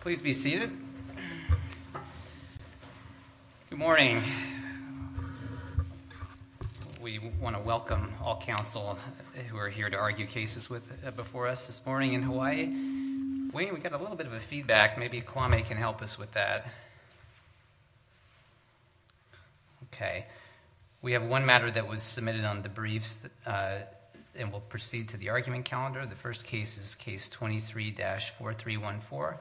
Please be seated. Good morning. We want to welcome all counsel who are here to argue cases with before us this morning in Hawaii. Wayne, we got a little bit of a feedback. Maybe Kwame can help us with that. Okay. We have one matter that was submitted on the briefs and we'll proceed to the argument calendar. The first case is Case 23-4314,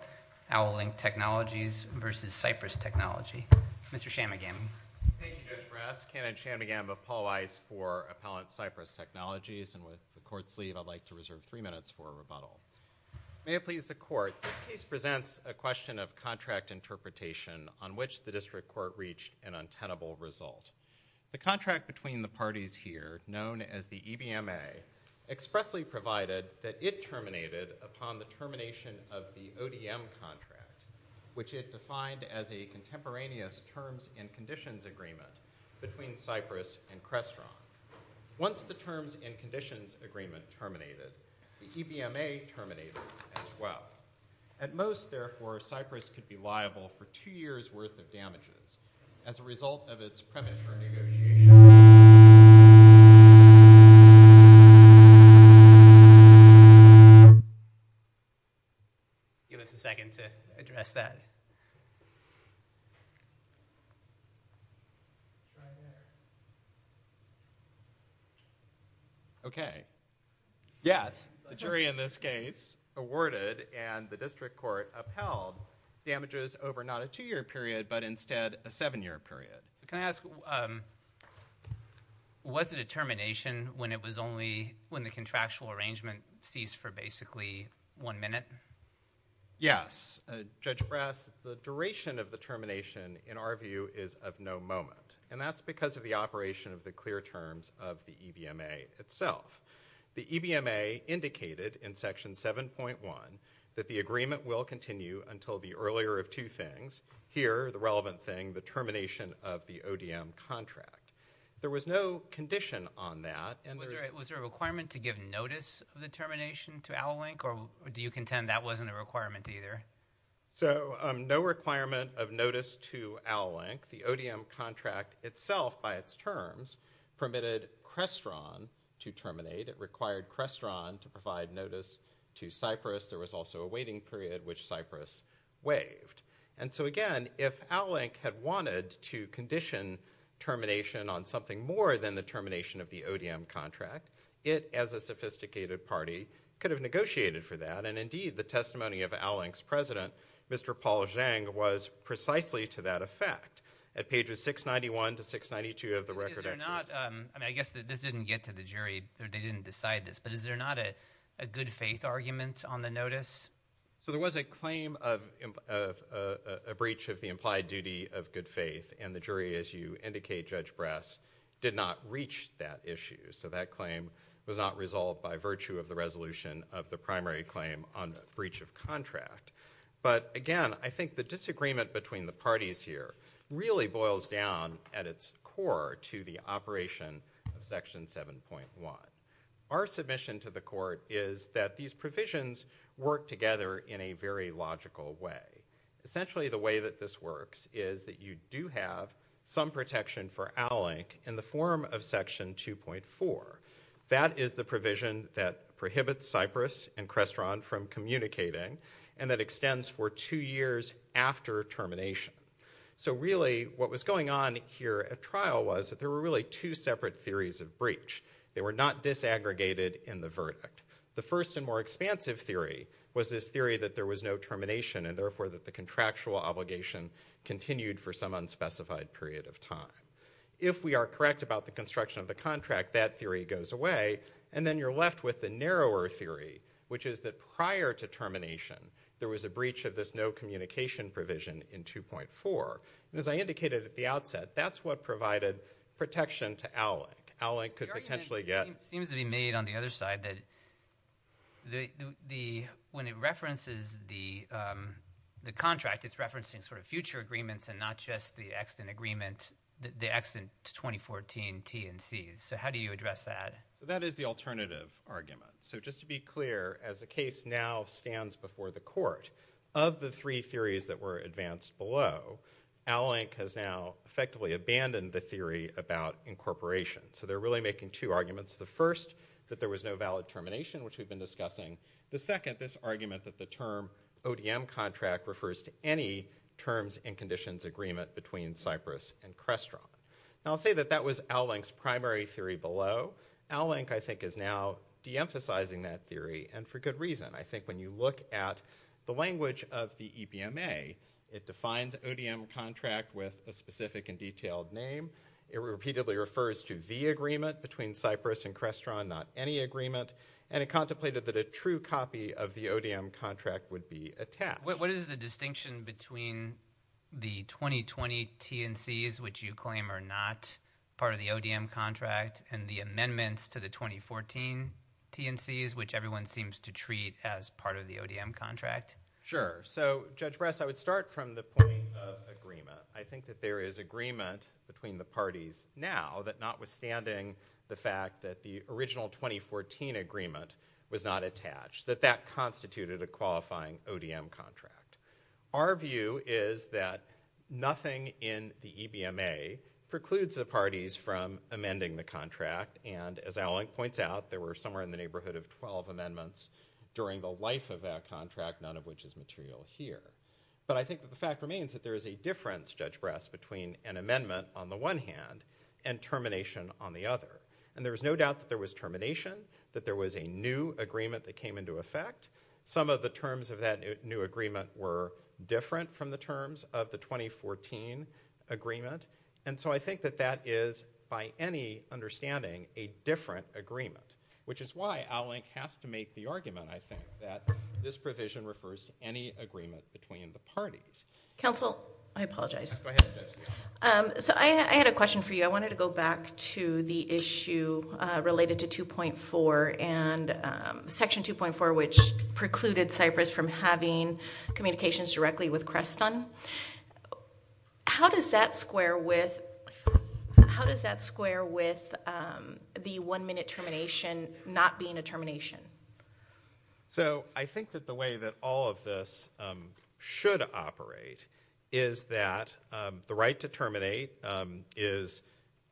Owl Link Technologies v. Cypress Technology. Mr. Shammagam. Thank you, Judge Brass. Kenneth Shammagam of Paul Weiss for Appellant Cypress Technologies, and with the Court's leave, I'd like to reserve three minutes for a rebuttal. May it please the Court, this case presents a question of contract interpretation on which the District Court reached an untenable result. The contract between the parties here, known as the EBMA, expressly provided that it terminated upon the termination of the ODM contract, which it defined as a contemporaneous terms and conditions agreement between Cypress and Crestron. Once the terms and conditions agreement terminated, the EBMA terminated as well. At most, therefore, Cypress could be liable for two years' worth of damages as a result of its premature negotiation. Give us a second to address that. Okay. Yes. The jury in this case awarded and the District Court upheld damages over not a two-year period, but instead a seven-year period. Can I ask, was it a termination when it was only when the contractual arrangement ceased for basically one minute? Yes. Judge Brass, the duration of the termination, in our view, is of no moment, and that's because of the operation of the clear terms of the EBMA itself. The EBMA indicated in Section 7.1 that the agreement will continue until the earlier of two things. Here, the relevant thing, the termination of the ODM contract. There was no condition on that. Was there a requirement to give notice of the termination to Owl Link, or do you contend that wasn't a requirement either? No requirement of notice to Owl Link. The ODM contract itself, by its terms, permitted Crestron to terminate. It required Crestron to provide notice to Cypress. There was also a waiting period, which Cypress waived. Again, if Owl Link had wanted to condition termination on something more than the termination of the ODM contract, it, as a sophisticated party, could have negotiated for that. Indeed, the testimony of Owl Link's president, Mr. Paul Zhang, was precisely to that effect. At pages 691 to 692 of the record, I guess this didn't get to the jury, they didn't decide this, but is there not a good faith argument on the notice? There was a claim of a breach of the implied duty of good faith, and the jury, as you indicate, Judge Brass, did not reach that issue. That claim was not resolved by virtue of the resolution of the primary claim on the breach of contract. Again, I think the disagreement between the parties here really boils down, at its core, to the operation of Section 7.1. Our submission to the court is that these provisions work together in a very logical way. Essentially, the way that this works is that you do have some protection for Owl Link in the form of Section 2.4. That is the provision that prohibits Cypress and Crestron from communicating, and that extends for two years after termination. So really, what was going on here at trial was that there were really two separate theories of breach. They were not disaggregated in the verdict. The first and more expansive theory was this theory that there was no termination, and therefore that the contractual obligation continued for some unspecified period of time. If we are correct about the construction of the contract, that theory goes away, and then you're left with the narrower theory, which is that prior to termination, there was a breach of this no communication provision in 2.4. As I indicated at the outset, that's what provided protection to Owl Link. Owl Link could potentially get... The argument seems to be made on the other side that when it references the contract, it's referencing sort of future agreements and not just the accident agreement, the accident 2014 T&Cs. So how do you address that? That is the alternative argument. So just to be clear, as the case now stands before the court, of the three theories that were advanced below, Owl Link has now effectively abandoned the theory about incorporation. So they're really making two arguments. The first, that there was no valid termination, which we've been discussing. The second, this argument that the term ODM contract refers to any terms and conditions agreement between Cyprus and Crestron. Now, I'll say that that was Owl Link's primary theory below. Owl Link, I think, is now deemphasizing that theory, and for good reason. I think when you look at the language of the EPMA, it defines ODM contract with a specific and detailed name. It repeatedly refers to the agreement between Cyprus and Crestron, not any agreement. And it contemplated that a true copy of the ODM contract would be attached. What is the distinction between the 2020 T&Cs, which you claim are not part of the ODM contract, and the amendments to the 2014 T&Cs, which everyone seems to treat as part of the ODM contract? Sure. So, Judge Bress, I would start from the point of agreement. I think that there is agreement between the parties now, that notwithstanding the fact that the original 2014 agreement was not attached, that that constituted a qualifying ODM contract. Our view is that nothing in the EPMA precludes the parties from amending the contract, and as Owl Link points out, there were somewhere in the neighborhood of 12 amendments during the life of that contract, none of which is material here. But I think that the fact remains that there is a difference, Judge Bress, between an amendment on the one hand and termination on the other. And there is no doubt that there was termination, that there was a new agreement that came into effect. Some of the terms of that new agreement were different from the terms of the 2014 agreement. And so I think that that is, by any understanding, a different agreement, which is why Owl Link has to make the argument, I think, that this provision refers to any agreement between the parties. Counsel, I apologize. Go ahead, Judge. So I had a question for you. I wanted to go back to the issue related to 2.4 and Section 2.4, which precluded Cypress from having communications directly with Creston. How does that square with the one-minute termination not being a termination? So I think that the way that all of this should operate is that the right to terminate is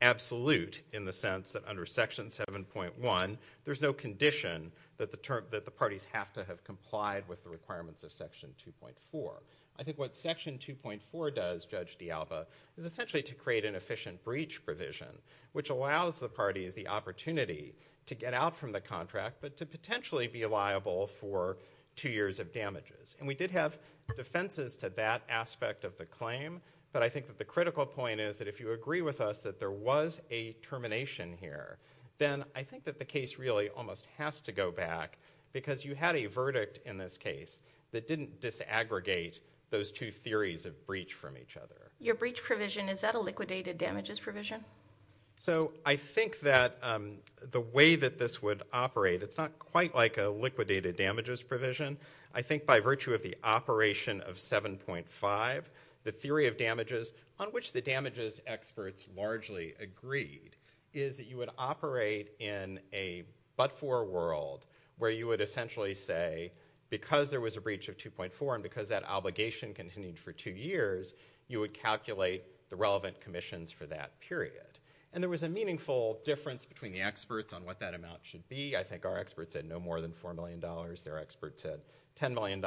absolute in the sense that under Section 7.1, there's no condition that the parties have to have complied with the requirements of Section 2.4. I think what Section 2.4 does, Judge D'Alba, is essentially to create an efficient breach provision, which allows the parties the opportunity to get out from the contract, but to potentially be liable for two years of damages. And we did have defenses to that aspect of the claim, but I think that the critical point is that if you agree with us that there was a termination here, then I think that the case really almost has to go back, because you had a verdict in this case that didn't disaggregate those two theories of breach from each other. Your breach provision, is that a liquidated damages provision? So I think that the way that this would operate, it's not quite like a liquidated damages provision. I think by virtue of the operation of 7.5, the theory of damages, on which the damages experts largely agreed, is that you would operate in a but-for world, where you would essentially say, because there was a breach of 2.4, and because that obligation continued for two years, you would calculate the relevant commissions for that period. And there was a meaningful difference between the experts on what that amount should be. I think our experts said no more than $4 million. Their experts said $10 million.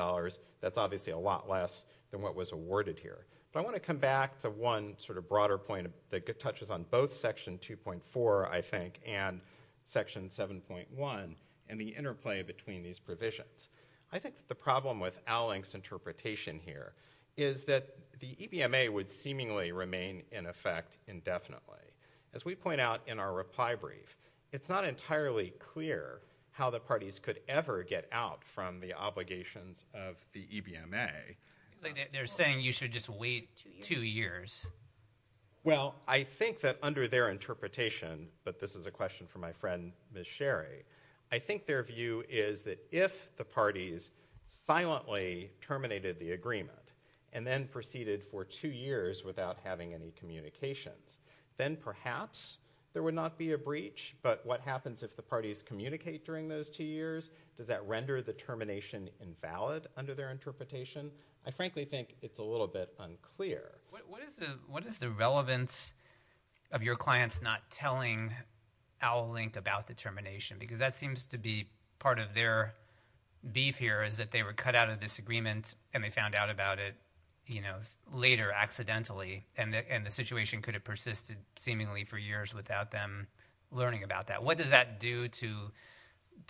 That's obviously a lot less than what was awarded here. But I want to come back to one sort of broader point that touches on both Section 2.4, I think, and Section 7.1, and the interplay between these provisions. I think the problem with Alling's interpretation here is that the EBMA would seemingly remain in effect indefinitely. As we point out in our reply brief, it's not entirely clear how the parties could ever get out from the obligations of the EBMA. They're saying you should just wait two years. Well, I think that under their interpretation, but this is a question for my friend Ms. Sherry, I think their view is that if the parties silently terminated the agreement, and then proceeded for two years without having any communications, then perhaps there would not be a breach. But what happens if the parties communicate during those two years? Does that render the termination invalid under their interpretation? I frankly think it's a little bit unclear. What is the relevance of your clients not telling Alling about the termination? Because that seems to be part of their beef here, is that they were cut out of this agreement and they found out about it later, accidentally, and the situation could have persisted seemingly for years without them learning about that. What does that do to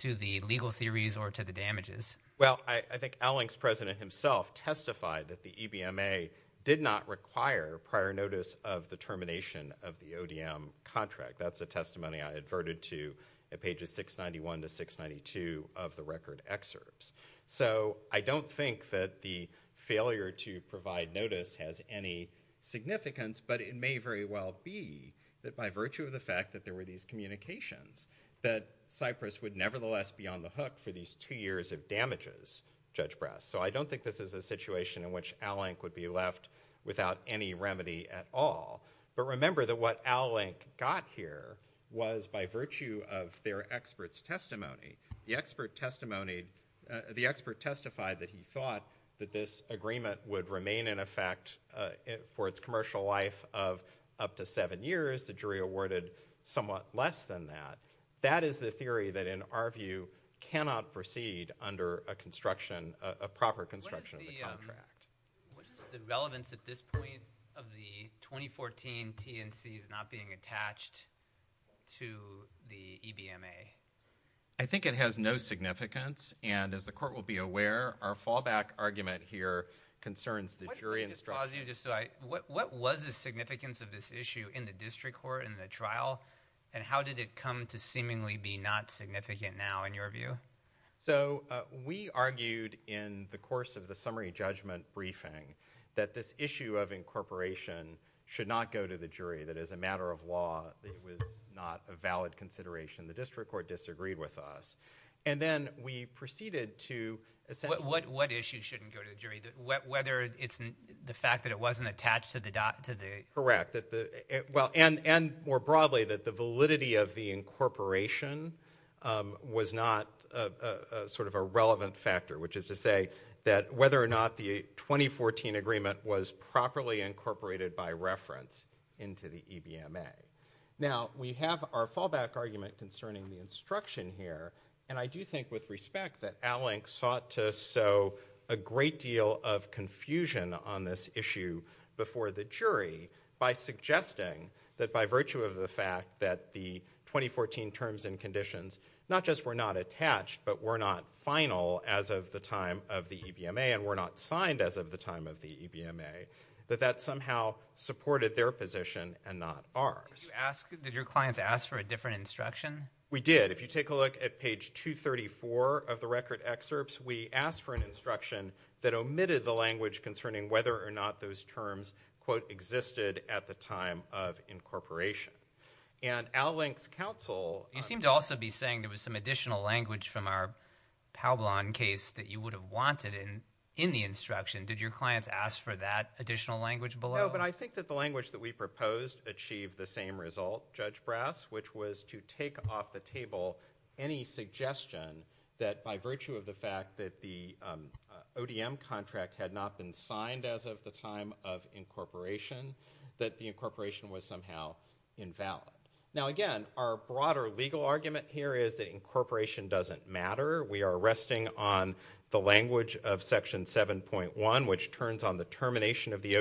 the legal theories or to the damages? Well, I think Alling's president himself testified that the EBMA did not require prior notice of the termination of the ODM contract. That's a testimony I adverted to at pages 691 to 692 of the record excerpts. So I don't think that the failure to provide notice has any significance, but it may very well be that by virtue of the fact that there were these communications, that Cyprus would nevertheless be on the hook for these two years of damages, Judge Brass. So I don't think this is a situation in which Alling would be left without any remedy at all. But remember that what Alling got here was by virtue of their expert's testimony. The expert testified that he thought that this agreement would remain in effect for its commercial life of up to seven years. The jury awarded somewhat less than that. That is the theory that in our view cannot proceed under a construction, a proper construction of the contract. What is the relevance at this point of the 2014 TNCs not being attached to the EBMA? I think it has no significance, and as the court will be aware, our fallback argument here concerns the jury instruction. What was the significance of this issue in the district court, in the trial, and how did it come to seemingly be not significant now in your view? So we argued in the course of the summary judgment briefing that this issue of incorporation should not go to the jury, that as a matter of law, it was not a valid consideration. The district court disagreed with us. And then we proceeded to— What issue shouldn't go to the jury? Whether it's the fact that it wasn't attached to the— Correct. And more broadly, that the validity of the incorporation was not sort of a relevant factor, which is to say that whether or not the 2014 agreement was properly incorporated by reference into the EBMA. Now we have our fallback argument concerning the instruction here, and I do think with sought to sow a great deal of confusion on this issue before the jury by suggesting that by virtue of the fact that the 2014 terms and conditions not just were not attached but were not final as of the time of the EBMA and were not signed as of the time of the EBMA, that that somehow supported their position and not ours. Did your clients ask for a different instruction? We did. If you take a look at page 234 of the record excerpts, we asked for an instruction that omitted the language concerning whether or not those terms, quote, existed at the time of incorporation. And Al Link's counsel— You seem to also be saying there was some additional language from our Pablon case that you would have wanted in the instruction. Did your clients ask for that additional language below? No, but I think that the language that we proposed achieved the same result, Judge Brass, which was to take off the table any suggestion that by virtue of the fact that the ODM contract had not been signed as of the time of incorporation, that the incorporation was somehow invalid. Now, again, our broader legal argument here is that incorporation doesn't matter. We are resting on the language of Section 7.1, which turns on the termination of the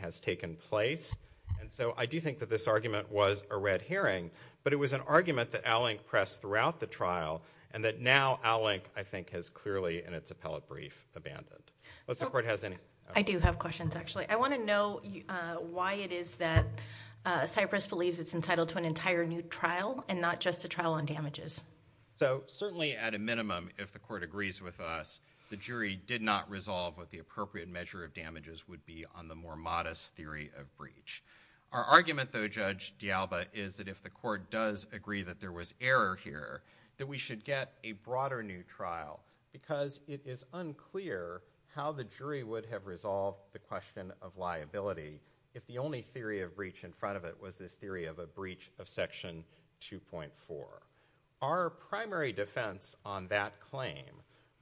has taken place. And so I do think that this argument was a red herring, but it was an argument that Al Link pressed throughout the trial and that now Al Link, I think, has clearly in its appellate brief abandoned. Does the court have any— I do have questions, actually. I want to know why it is that Cypress believes it's entitled to an entire new trial and not just a trial on damages. So certainly at a minimum, if the court agrees with us, the jury did not resolve what the appropriate measure of damages would be on the more modest theory of breach. Our argument, though, Judge D'Alba, is that if the court does agree that there was error here, that we should get a broader new trial because it is unclear how the jury would have resolved the question of liability if the only theory of breach in front of it was this theory of a breach of Section 2.4. Our primary defense on that claim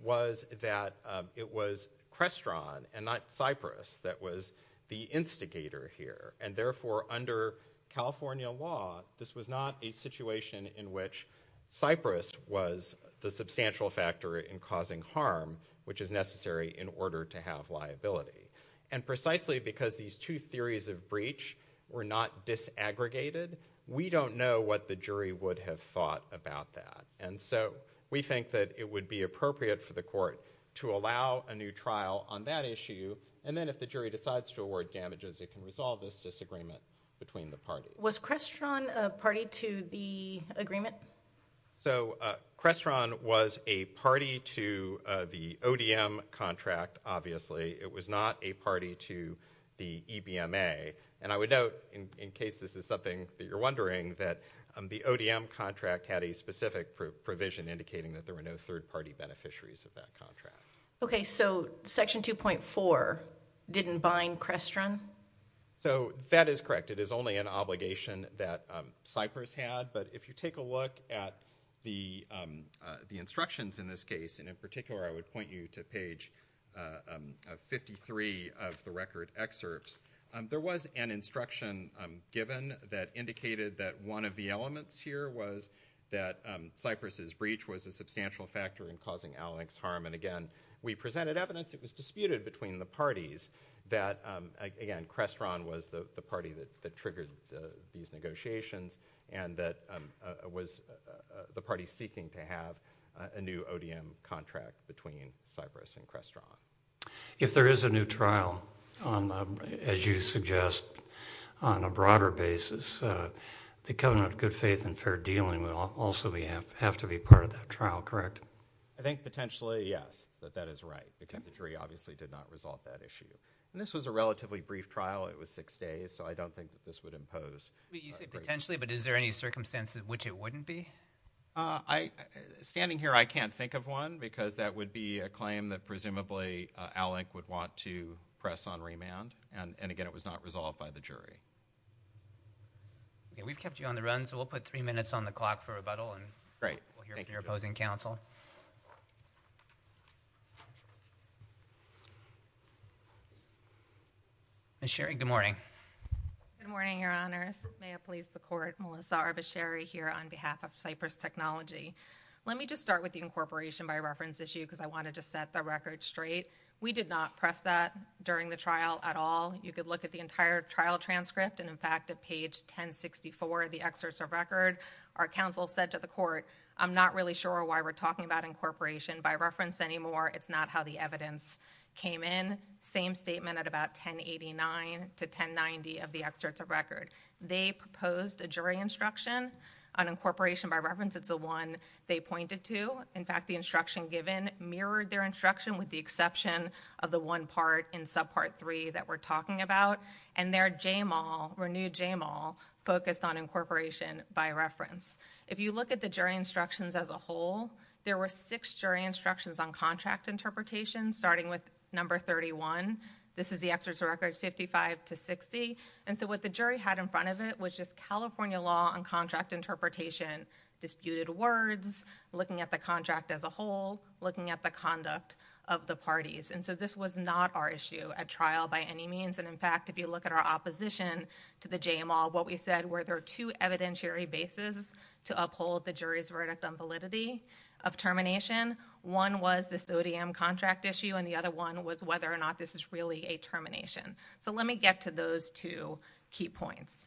was that it was Crestron and not Cypress that was the instigator here, and therefore under California law, this was not a situation in which Cypress was the substantial factor in causing harm, which is necessary in order to have liability. And precisely because these two theories of breach were not disaggregated, we don't know what the jury would have thought about that. And so we think that it would be appropriate for the court to allow a new trial on that issue, and then if the jury decides to award damages, it can resolve this disagreement between the parties. Was Crestron a party to the agreement? So Crestron was a party to the ODM contract, obviously. It was not a party to the EBMA. And I would note, in case this is something that you're wondering, that the ODM contract had a specific provision indicating that there were no third-party beneficiaries of that Okay, so Section 2.4 didn't bind Crestron? So that is correct. It is only an obligation that Cypress had, but if you take a look at the instructions in this case, and in particular I would point you to page 53 of the record excerpts, there was an instruction given that indicated that one of the elements here was that Cypress's breach was a substantial factor in causing Al-Nik's harm, and again, we presented evidence it was disputed between the parties that, again, Crestron was the party that triggered these negotiations, and that was the party seeking to have a new ODM contract between Cypress and Crestron. If there is a new trial, as you suggest, on a broader basis, the Covenant of Good Faith and Fair Dealing would also have to be part of that trial, correct? I think potentially, yes, that that is right, because the jury obviously did not resolve that issue. And this was a relatively brief trial, it was six days, so I don't think that this would impose a great deal. You say potentially, but is there any circumstances in which it wouldn't be? I, standing here, I can't think of one, because that would be a claim that presumably Al-Nik would want to press on remand, and again, it was not resolved by the jury. Okay, we've kept you on the run, so we'll put three minutes on the clock for rebuttal, and we'll hear from your opposing counsel. Ms. Sherry, good morning. Good morning, Your Honors. May it please the Court, Melissa Arbasheri here on behalf of Cypress Technology. Let me just start with the incorporation by reference issue, because I wanted to set the record straight. We did not press that during the trial at all. You could look at the entire trial transcript, and in fact, at page 1064 of the excerpts of record, our counsel said to the Court, I'm not really sure why we're talking about incorporation by reference anymore. It's not how the evidence came in. Same statement at about 1089 to 1090 of the excerpts of record. They proposed a jury instruction on incorporation by reference. It's the one they pointed to. In fact, the instruction given mirrored their instruction with the exception of the one part in subpart three that we're talking about, and their JMAL, renewed JMAL, focused on incorporation by reference. If you look at the jury instructions as a whole, there were six jury instructions on contract interpretation, starting with number 31. This is the excerpts of records 55 to 60. What the jury had in front of it was just California law on contract interpretation, disputed words, looking at the contract as a whole, looking at the conduct of the parties. This was not our issue at trial by any means. In fact, if you look at our opposition to the JMAL, what we said were there are two evidentiary bases to uphold the jury's verdict on validity of termination. One was this ODM contract issue, and the other one was whether or not this is really a termination. Let me get to those two key points.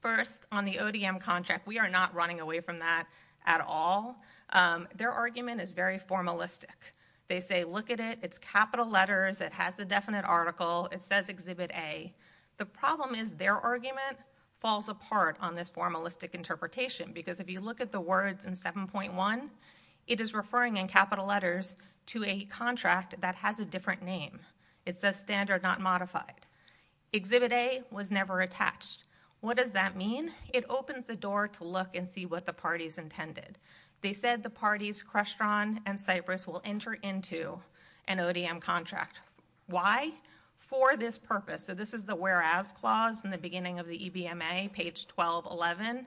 First, on the ODM contract, we are not running away from that at all. Their argument is very formalistic. They say, look at it. It's capital letters. It has the definite article. It says Exhibit A. The problem is their argument falls apart on this formalistic interpretation, because if you look at the words in 7.1, it is referring in capital letters to a contract that has a different name. It says standard not modified. Exhibit A was never attached. What does that mean? It opens the door to look and see what the parties intended. They said the parties Crestron and Cypress will enter into an ODM contract. Why? For this purpose. This is the whereas clause in the beginning of the EBMA, page 1211.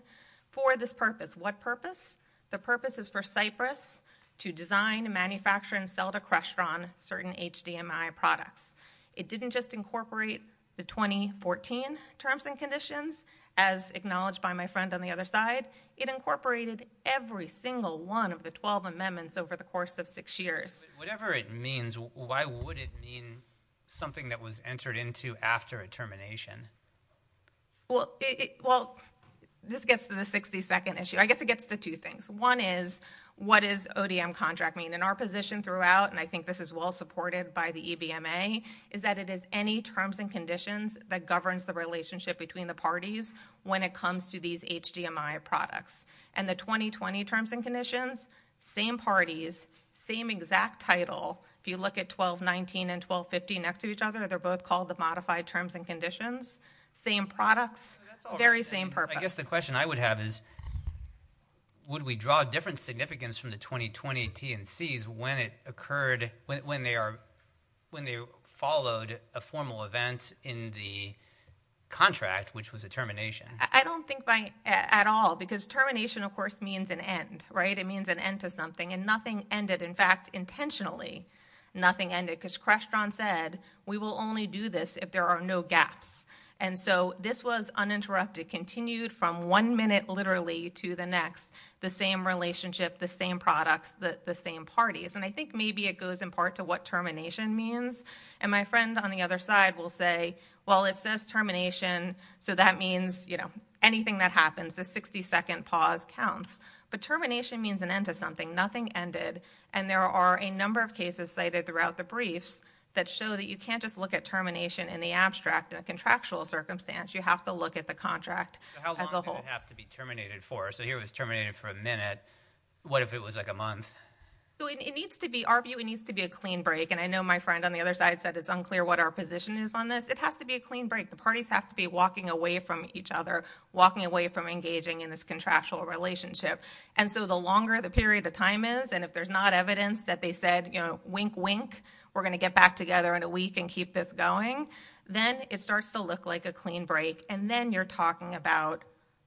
For this purpose. What purpose? The purpose is for Cypress to design, manufacture, and sell to Crestron certain HDMI products. It didn't just incorporate the 2014 terms and conditions, as acknowledged by my friend on the other side. It incorporated every single one of the 12 amendments over the course of six years. Whatever it means, why would it mean something that was entered into after a termination? Well, this gets to the 60-second issue. I guess it gets to two things. One is, what does ODM contract mean? In our position throughout, and I think this is well supported by the EBMA, is that it is any terms and conditions that governs the relationship between the parties when it comes to these HDMI products. The 2020 terms and conditions, same parties, same exact title. If you look at 1219 and 1250 next to each other, they're both called the modified terms and conditions. Same products, very same purpose. I guess the question I would have is, would we draw a different significance from the 2020 T&Cs when they followed a formal event in the contract, which was a termination? I don't think at all, because termination, of course, means an end. It means an end to something. Nothing ended. In fact, intentionally, nothing ended, because Crestron said, we will only do this if there are no gaps. This was uninterrupted, continued from one minute, literally, to the next. The same relationship, the same products, the same parties. I think maybe it goes in part to what termination means. My friend on the other side will say, well, it says termination, so that means anything that happens. The 60-second pause counts. Termination means an end to something. Nothing ended. There are a number of cases cited throughout the briefs that show that you can't just look at termination in the abstract, in a contractual circumstance. You have to look at the contract as a whole. How long did it have to be terminated for? Here it was terminated for a minute. What if it was a month? It needs to be, our view, it needs to be a clean break. I know my friend on the other side said it's unclear what our position is on this. It has to be a clean break. The parties have to be walking away from each other, walking away from engaging in this contractual relationship. The longer the period of time is, and if there's not evidence that they said, wink, wink, we're going to get back together in a week and keep this going, then it starts to look like a clean break. Then you're talking about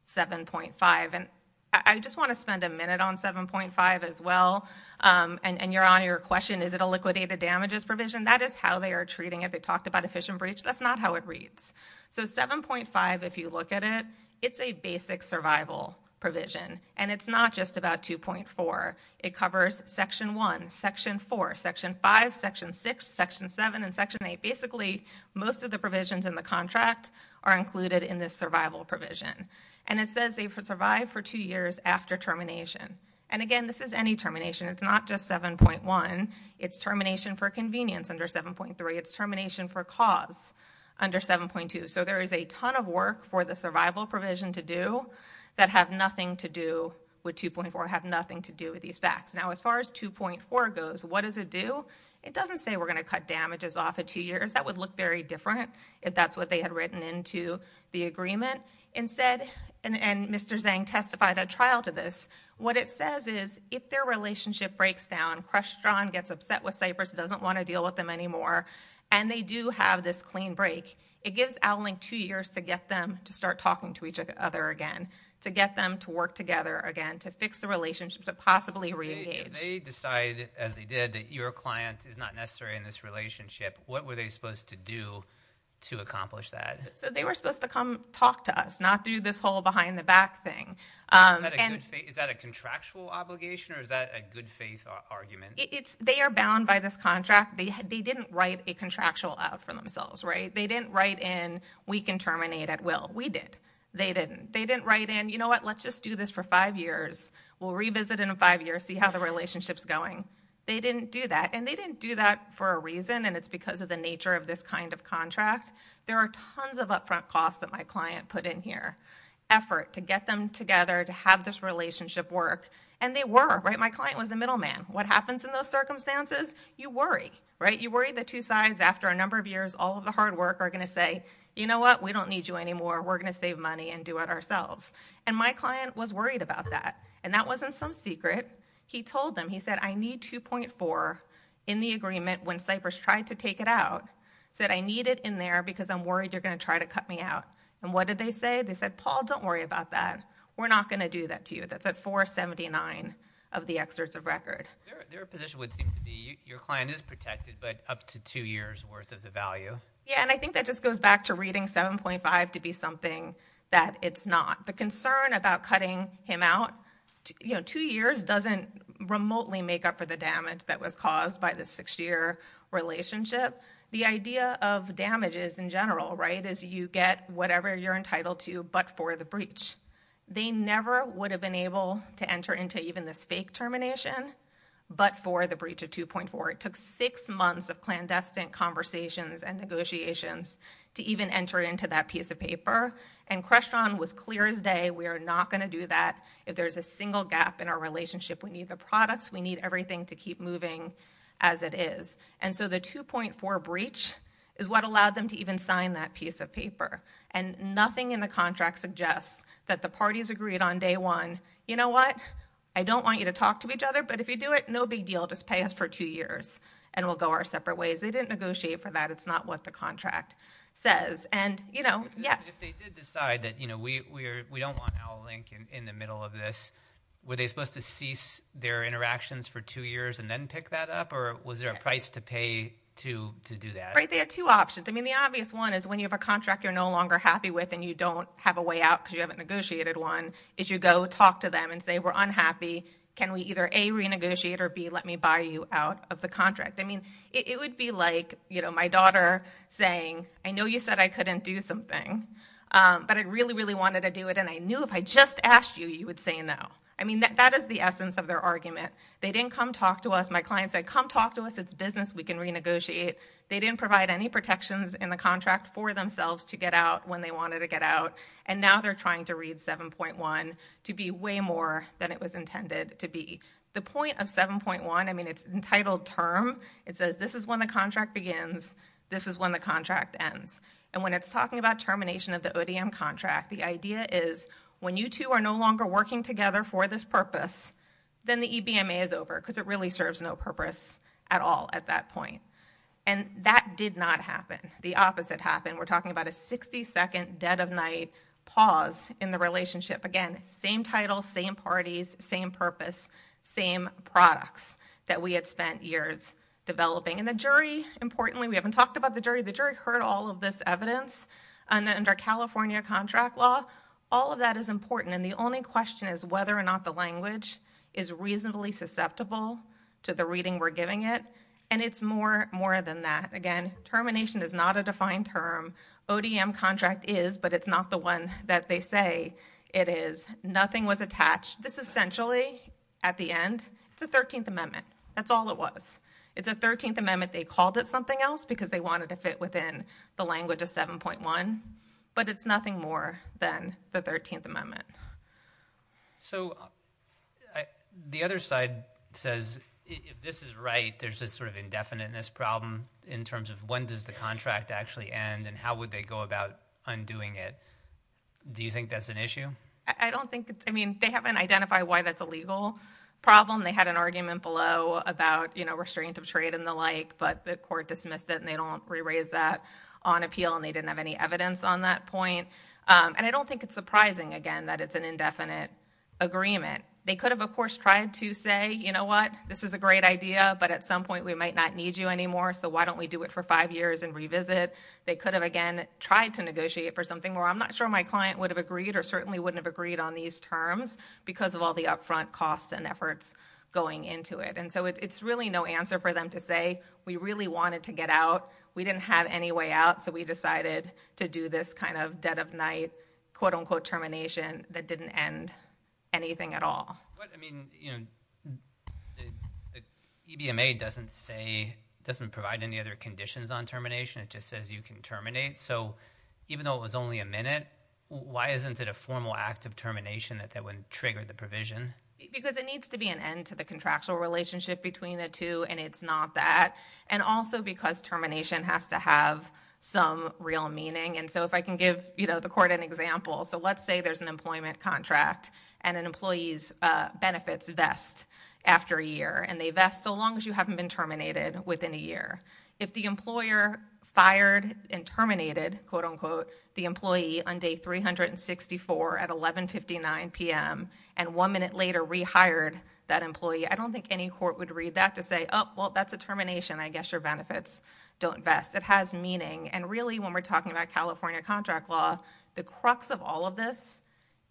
7.5. I just want to spend a minute on 7.5 as well. You're on your question, is it a liquidated damages provision? That is how they are treating it. They talked about efficient breach. That's not how it reads. 7.5, if you look at it, it's a basic survival provision. It's not just about 2.4. It covers section one, section four, section five, section six, section seven, and section eight. Basically, most of the provisions in the contract are included in this survival provision. It says they survived for two years after termination. Again, this is any termination. It's not just 7.1. It's termination for convenience under 7.3. It's termination for cause under 7.2. There is a ton of work for the survival provision to do that have nothing to do with 2.4, have nothing to do with these facts. As far as 2.4 goes, what does it do? It doesn't say we're going to cut damages off at two years. That would look very different if that's what they had written into the agreement. Instead, and Mr. Zhang testified at trial to this, what it says is if their relationship breaks down, Krestron gets upset with Cypress, doesn't want to deal with them anymore, and they do have this clean break, it gives Outlink two years to get them to start talking to each other again, to get them to work together again, to fix the relationship, to possibly re-engage. If they decide, as they did, that your client is not necessary in this relationship, what were they supposed to do to accomplish that? They were supposed to come talk to us, not do this whole behind-the-back thing. Is that a contractual obligation, or is that a good-faith argument? They are bound by this contract. They didn't write a contractual out for themselves. They didn't write in, we can terminate at will. We did. They didn't. They didn't write in, you know what, let's just do this for five years. We'll revisit in five years, see how the relationship's going. They didn't do that. They didn't do that for a reason, and it's because of the nature of this kind of contract. There are tons of upfront costs that my client put in here. Effort to get them together, to have this relationship work, and they were. My client was a middleman. What happens in those circumstances? You worry. You worry the two sides, after a number of years, all of the hard work are going to say, you know what, we don't need you anymore, we're going to save money and do it ourselves. My client was worried about that, and that wasn't some secret. He told them. He said, I need 2.4 in the agreement when Cypress tried to take it out, said I need it in there because I'm worried you're going to try to cut me out. What did they say? They said, Paul, don't worry about that. We're not going to do that to you. That's at 479 of the excerpts of record. Their position would seem to be, your client is protected, but up to two years worth of the value. Yeah, and I think that just goes back to reading 7.5 to be something that it's not. The concern about cutting him out, you know, two years doesn't remotely make up for the damage that was caused by the six year relationship. The idea of damages in general, right, is you get whatever you're entitled to, but for the breach. They never would have been able to enter into even this fake termination, but for the breach of 2.4. It took six months of clandestine conversations and negotiations to even enter into that piece of paper, and Crestron was clear as day, we are not going to do that. If there's a single gap in our relationship, we need the products, we need everything to keep moving as it is. And so the 2.4 breach is what allowed them to even sign that piece of paper, and nothing in the contract suggests that the parties agreed on day one, you know what, I don't want you to talk to each other, but if you do it, no big deal, just pay us for two years and we'll go our separate ways. They didn't negotiate for that. It's not what the contract says, and you know, yes. If they did decide that we don't want Owl Link in the middle of this, were they supposed to cease their interactions for two years and then pick that up, or was there a price to pay to do that? Right, they had two options. I mean, the obvious one is when you have a contract you're no longer happy with and you don't have a way out because you haven't negotiated one, is you go talk to them and say we're unhappy, can we either A, renegotiate, or B, let me buy you out of the contract. I mean, it would be like, you know, my daughter saying, I know you said I couldn't do something, but I really, really wanted to do it and I knew if I just asked you, you would say no. I mean, that is the essence of their argument. They didn't come talk to us. My client said, come talk to us. It's business. We can renegotiate. They didn't provide any protections in the contract for themselves to get out when they wanted to get out, and now they're trying to read 7.1 to be way more than it was intended to be. The point of 7.1, I mean, it's an entitled term. It says this is when the contract begins, this is when the contract ends, and when it's talking about termination of the ODM contract, the idea is when you two are no longer working together for this purpose, then the EBMA is over because it really serves no purpose at all at that point, and that did not happen. The opposite happened. We're talking about a 60-second dead of night pause in the relationship. Again, same title, same parties, same purpose, same products that we had spent years developing, and the jury, importantly, we haven't talked about the jury. The jury heard all of this evidence under California contract law. All of that is important, and the only question is whether or not the language is reasonably susceptible to the reading we're giving it, and it's more than that. Again, termination is not a defined term. ODM contract is, but it's not the one that they say it is. Nothing was attached. This essentially, at the end, it's a 13th Amendment. That's all it was. It's a 13th Amendment. They called it something else because they wanted to fit within the language of 7.1, but it's nothing more than the 13th Amendment. The other side says, if this is right, there's this indefiniteness problem in terms of when does the contract actually end, and how would they go about undoing it. Do you think that's an issue? They haven't identified why that's a legal problem. They had an argument below about restraint of trade and the like, but the court dismissed it and they don't re-raise that on appeal, and they didn't have any evidence on that point. I don't think it's surprising, again, that it's an indefinite agreement. They could have, of course, tried to say, you know what, this is a great idea, but at some point, we might not need you anymore, so why don't we do it for five years and revisit? They could have, again, tried to negotiate for something where I'm not sure my client would have agreed or certainly wouldn't have agreed on these terms because of all the upfront costs and efforts going into it. It's really no answer for them to say, we really wanted to get out, we didn't have any way out, so we decided to do this kind of dead of night, quote unquote, termination that didn't end anything at all. But, I mean, the EBMA doesn't say, doesn't provide any other conditions on termination, it just says you can terminate. Even though it was only a minute, why isn't it a formal act of termination that would trigger the provision? Because it needs to be an end to the contractual relationship between the two, and it's not that, and also because termination has to have some real meaning, and so if I can give the court an example, so let's say there's an employment contract, and an employee's benefits vest after a year, and they vest so long as you haven't been terminated within a year. If the employer fired and terminated, quote unquote, the employee on day 364 at 1159 p.m. And one minute later, rehired that employee, I don't think any court would read that to say, oh, well, that's a termination, I guess your benefits don't vest. It has meaning, and really, when we're talking about California contract law, the crux of all of this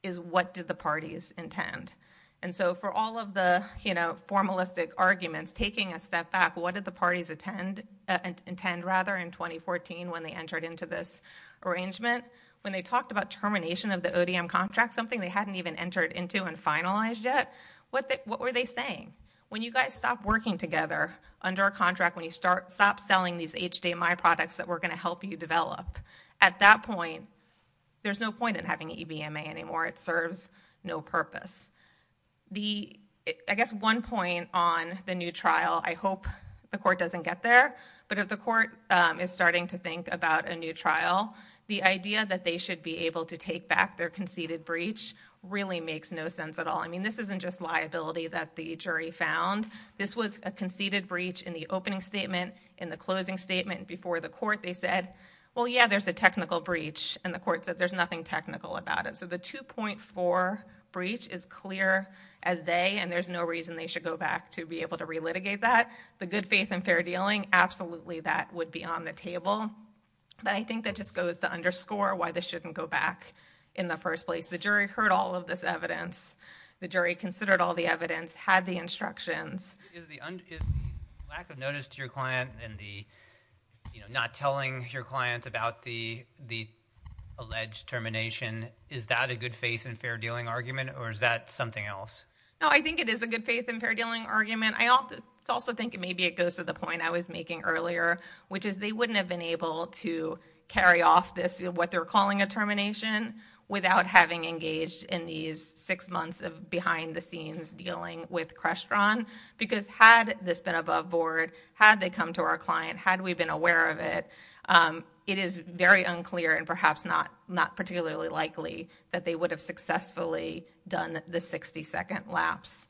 is what did the parties intend? And so for all of the formalistic arguments, taking a step back, what did the parties intend rather in 2014 when they entered into this arrangement? When they talked about termination of the ODM contract, something they hadn't even entered into and finalized yet, what were they saying? When you guys stop working together under a contract, when you stop selling these HDMI products that we're going to help you develop, at that point, there's no point in having an EBMA anymore. It serves no purpose. I guess one point on the new trial, I hope the court doesn't get there, but if the court is starting to think about a new trial, the idea that they should be able to take back their conceded breach really makes no sense at all. This isn't just liability that the jury found. This was a conceded breach in the opening statement. In the closing statement before the court, they said, well, yeah, there's a technical breach, and the court said there's nothing technical about it. So the 2.4 breach is clear as day, and there's no reason they should go back to be able to relitigate that. The good faith and fair dealing, absolutely, that would be on the table, but I think that just goes to underscore why they shouldn't go back in the first place. The jury heard all of this evidence. The jury considered all the evidence, had the instructions. Is the lack of notice to your client and the not telling your client about the alleged termination, is that a good faith and fair dealing argument, or is that something else? No, I think it is a good faith and fair dealing argument. I also think maybe it goes to the point I was making earlier, which is they wouldn't have been able to carry off this, what they're calling a termination, without having engaged in these six months of behind the scenes dealing with Crestron, because had this been above board, had they come to our client, had we been aware of it, it is very unclear and perhaps not particularly likely that they would have successfully done the 60 second lapse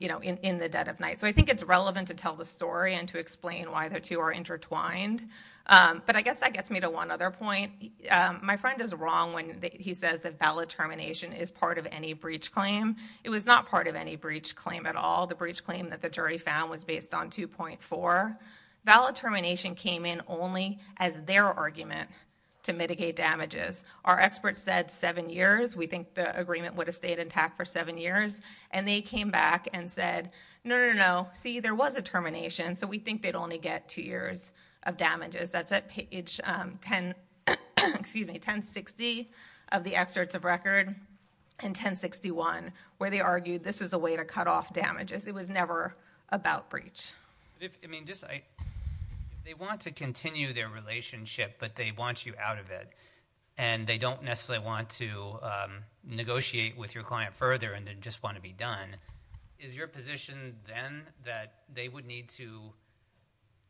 in the dead of night. I think it's relevant to tell the story and to explain why the two are intertwined, but I guess that gets me to one other point. My friend is wrong when he says that valid termination is part of any breach claim. It was not part of any breach claim at all. The breach claim that the jury found was based on 2.4. Valid termination came in only as their argument to mitigate damages. Our experts said seven years, we think the agreement would have stayed intact for seven years. They came back and said, no, no, no, see, there was a termination, so we think they'd only get two years of damages. That's at page 1060 of the excerpts of record and 1061, where they argued this is a way to cut off damages. It was never about breach. If they want to continue their relationship, but they want you out of it, and they don't necessarily want to negotiate with your client further and just want to be done, is your position then that they would need to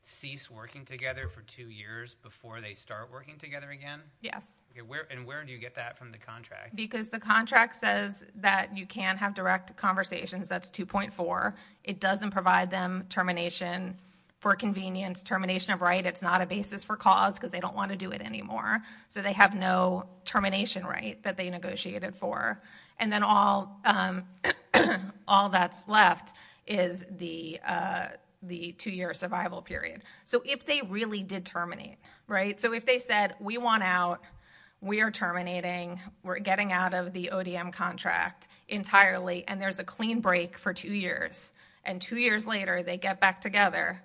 cease working together for two years before they start working together again? Yes. Where do you get that from the contract? Because the contract says that you can't have direct conversations. That's 2.4. It doesn't provide them termination for convenience, termination of right. It's not a basis for cause, because they don't want to do it anymore. They have no termination right that they negotiated for. All that's left is the two-year survival period. If they really did terminate, if they said, we want out, we are terminating, we're getting out of the ODM contract entirely, and there's a clean break for two years, and two years later they get back together,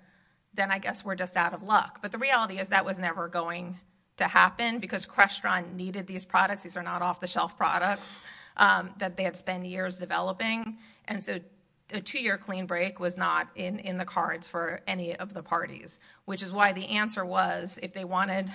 then I guess we're just out of luck. The reality is that was never going to happen, because Crestron needed these products. These are not off-the-shelf products that they had spent years developing. A two-year clean break was not in the cards for any of the parties, which is why the answer was if they wanted,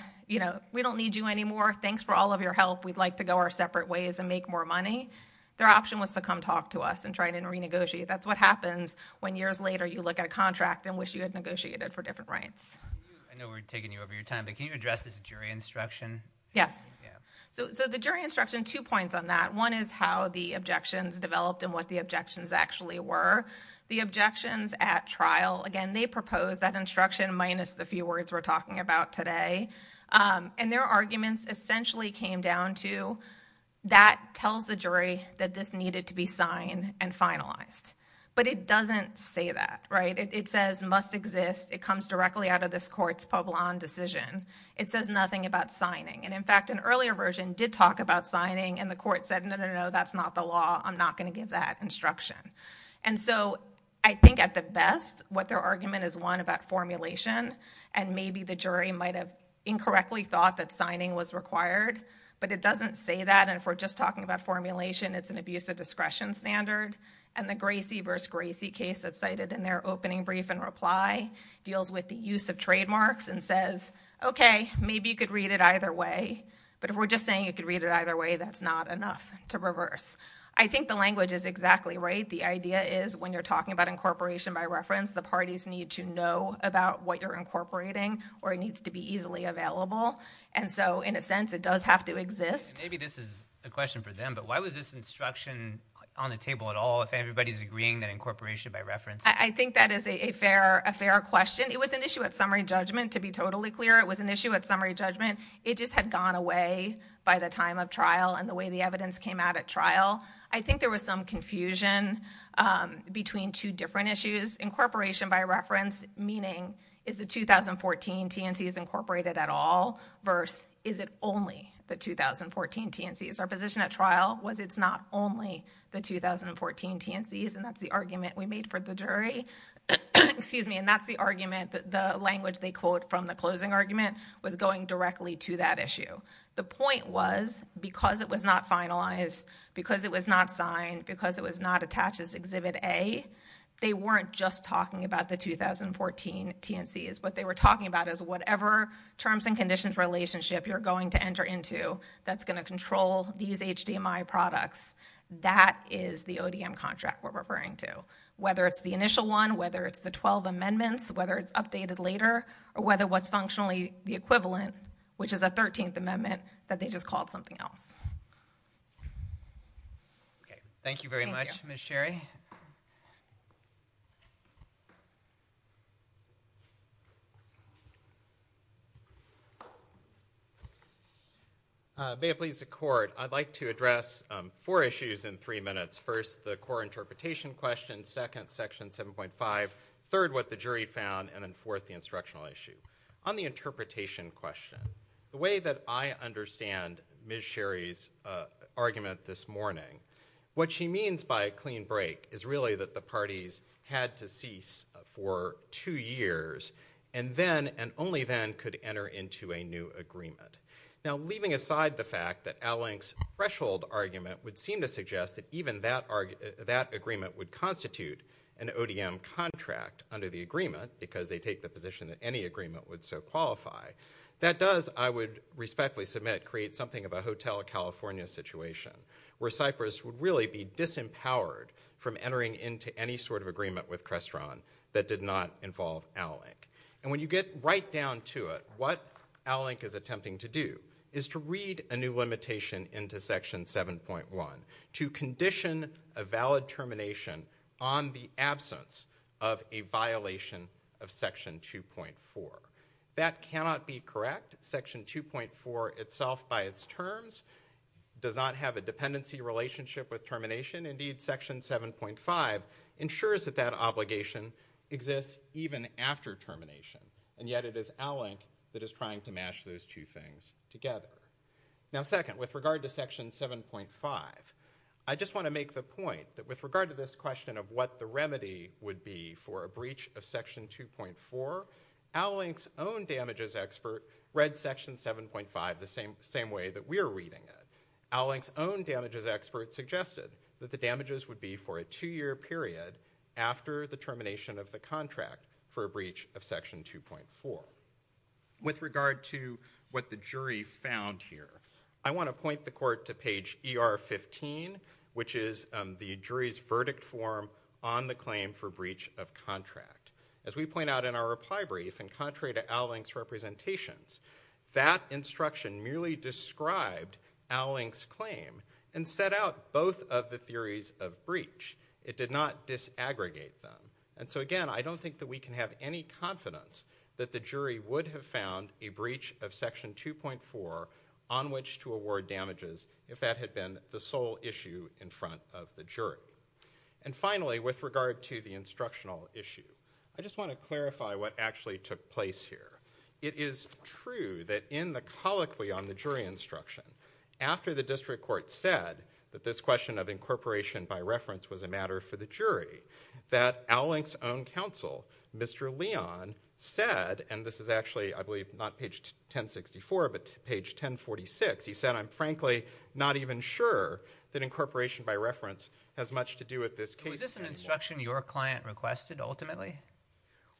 we don't need you anymore, thanks for all of your help, we'd like to go our separate ways and make more money, their option was to come talk to us and try to renegotiate. That's what happens when years later you look at a contract and wish you had negotiated for different rights. I know we're taking you over your time, but can you address this jury instruction? Yes. So, the jury instruction, two points on that. One is how the objections developed and what the objections actually were. The objections at trial, again, they proposed that instruction minus the few words we're talking about today, and their arguments essentially came down to that tells the jury that this needed to be signed and finalized, but it doesn't say that, right? It says must exist, it comes directly out of this court's Pablon decision, it says nothing about signing. And in fact, an earlier version did talk about signing and the court said, no, no, no, that's not the law, I'm not going to give that instruction. And so, I think at the best, what their argument is one about formulation, and maybe the jury might have incorrectly thought that signing was required, but it doesn't say that, and if we're just talking about formulation, it's an abuse of discretion standard, and the Gracie v. Gracie case that's cited in their opening brief and reply deals with the use of trademarks and says, okay, maybe you could read it either way, but if we're just saying you could read it either way, that's not enough to reverse. I think the language is exactly right. The idea is when you're talking about incorporation by reference, the parties need to know about what you're incorporating or it needs to be easily available, and so, in a sense, it does have to exist. And maybe this is a question for them, but why was this instruction on the table at all if everybody's agreeing that incorporation by reference? I think that is a fair question. It was an issue at summary judgment, to be totally clear. It was an issue at summary judgment. It just had gone away by the time of trial and the way the evidence came out at trial. I think there was some confusion between two different issues. Incorporation by reference, meaning is the 2014 TNCs incorporated at all versus is it only the 2014 TNCs? Our position at trial was it's not only the 2014 TNCs, and that's the argument we made for the jury, and that's the argument that the language they quote from the closing argument was going directly to that issue. The point was because it was not finalized, because it was not signed, because it was not attached as Exhibit A, they weren't just talking about the 2014 TNCs. What they were talking about is whatever terms and conditions relationship you're going to enter into that's going to control these HDMI products, that is the ODM contract we're referring to, whether it's the initial one, whether it's the 12 amendments, whether it's updated later, or whether what's functionally the equivalent, which is a 13th amendment, that they just called something else. Okay. Thank you very much, Ms. Sherry. May it please the court, I'd like to address four issues in three minutes. First, the core interpretation question, second, section 7.5, third, what the jury found, and then fourth, the instructional issue. On the interpretation question, the way that I understand Ms. Sherry's argument this morning, what she means by a clean break is really that the parties had to cease for two years and then, and only then, could enter into a new agreement. Now, leaving aside the fact that Alink's threshold argument would seem to suggest that even that agreement would constitute an ODM contract under the agreement, because they take the assumption that any agreement would so qualify, that does, I would respectfully submit, create something of a Hotel California situation, where Cypress would really be disempowered from entering into any sort of agreement with Crestron that did not involve Alink. And when you get right down to it, what Alink is attempting to do is to read a new limitation into section 7.1, to condition a valid termination on the absence of a violation of section 2.1. That cannot be correct. Section 2.4 itself, by its terms, does not have a dependency relationship with termination. Indeed, section 7.5 ensures that that obligation exists even after termination. And yet, it is Alink that is trying to mash those two things together. Now, second, with regard to section 7.5, I just want to make the point that with regard to this question of what the remedy would be for a breach of section 2.4, Alink's own damages expert read section 7.5 the same way that we are reading it. Alink's own damages expert suggested that the damages would be for a two-year period after the termination of the contract for a breach of section 2.4. With regard to what the jury found here, I want to point the court to page ER15, which is the jury's verdict form on the claim for breach of contract. As we point out in our reply brief, in contrary to Alink's representations, that instruction merely described Alink's claim and set out both of the theories of breach. It did not disaggregate them. And so again, I don't think that we can have any confidence that the jury would have found a breach of section 2.4 on which to award damages if that had been the sole issue in front of the jury. And finally, with regard to the instructional issue, I just want to clarify what actually took place here. It is true that in the colloquy on the jury instruction, after the district court said that this question of incorporation by reference was a matter for the jury, that Alink's own counsel, Mr. Leon, said, and this is actually, I believe, not page 1064, but page 1046, he said, I'm frankly not even sure that incorporation by reference has much to do with this case. Was this an instruction your client requested ultimately?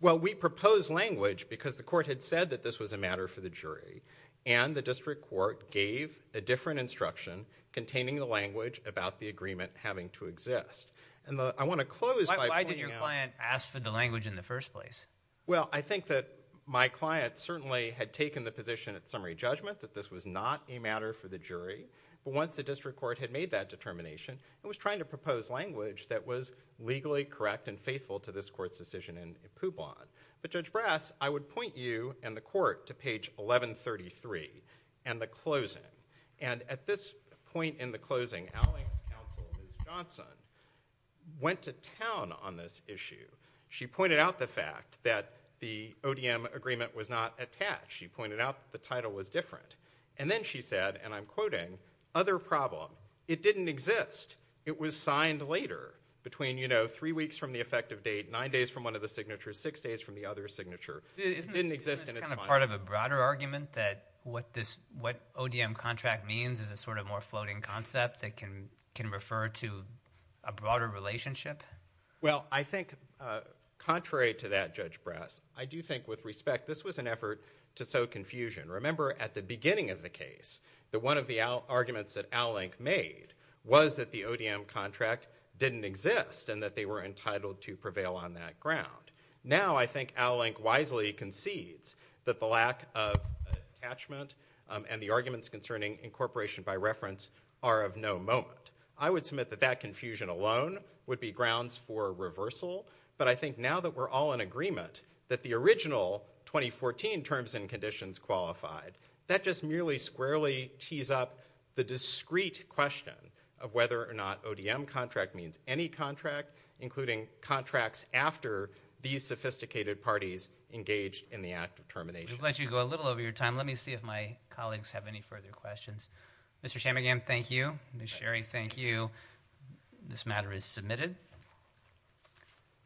Well, we proposed language because the court had said that this was a matter for the jury. And the district court gave a different instruction containing the language about the agreement having to exist. And I want to close by pointing out— Why did your client ask for the language in the first place? Well, I think that my client certainly had taken the position at summary judgment that this was not a matter for the jury. But once the district court had made that determination, it was trying to propose language that was legally correct and faithful to this court's decision in Poubon. But Judge Brass, I would point you and the court to page 1133 and the closing. And at this point in the closing, Allyn's counsel, Ms. Johnson, went to town on this issue. She pointed out the fact that the ODM agreement was not attached. She pointed out that the title was different. And then she said, and I'm quoting, other problem. It didn't exist. It was signed later between, you know, three weeks from the effective date, nine days from one of the signatures, six days from the other signature. It didn't exist in its mind. Is this part of a broader argument that what this, what ODM contract means is a sort of more floating concept that can refer to a broader relationship? Well, I think contrary to that, Judge Brass, I do think with respect, this was an effort to sow confusion. Remember, at the beginning of the case, that one of the arguments that Allyn made was that the ODM contract didn't exist and that they were entitled to prevail on that ground. Now I think Allyn wisely concedes that the lack of attachment and the arguments concerning incorporation by reference are of no moment. I would submit that that confusion alone would be grounds for reversal, but I think now that we're all in agreement that the original 2014 terms and conditions qualified, that just merely squarely tees up the discrete question of whether or not ODM contract means any contract, including contracts after these sophisticated parties engaged in the act of termination. I'm glad you go a little over your time. Let me see if my colleagues have any further questions. Mr. Chammergian, thank you. Ms. Sherry, thank you. This matter is submitted.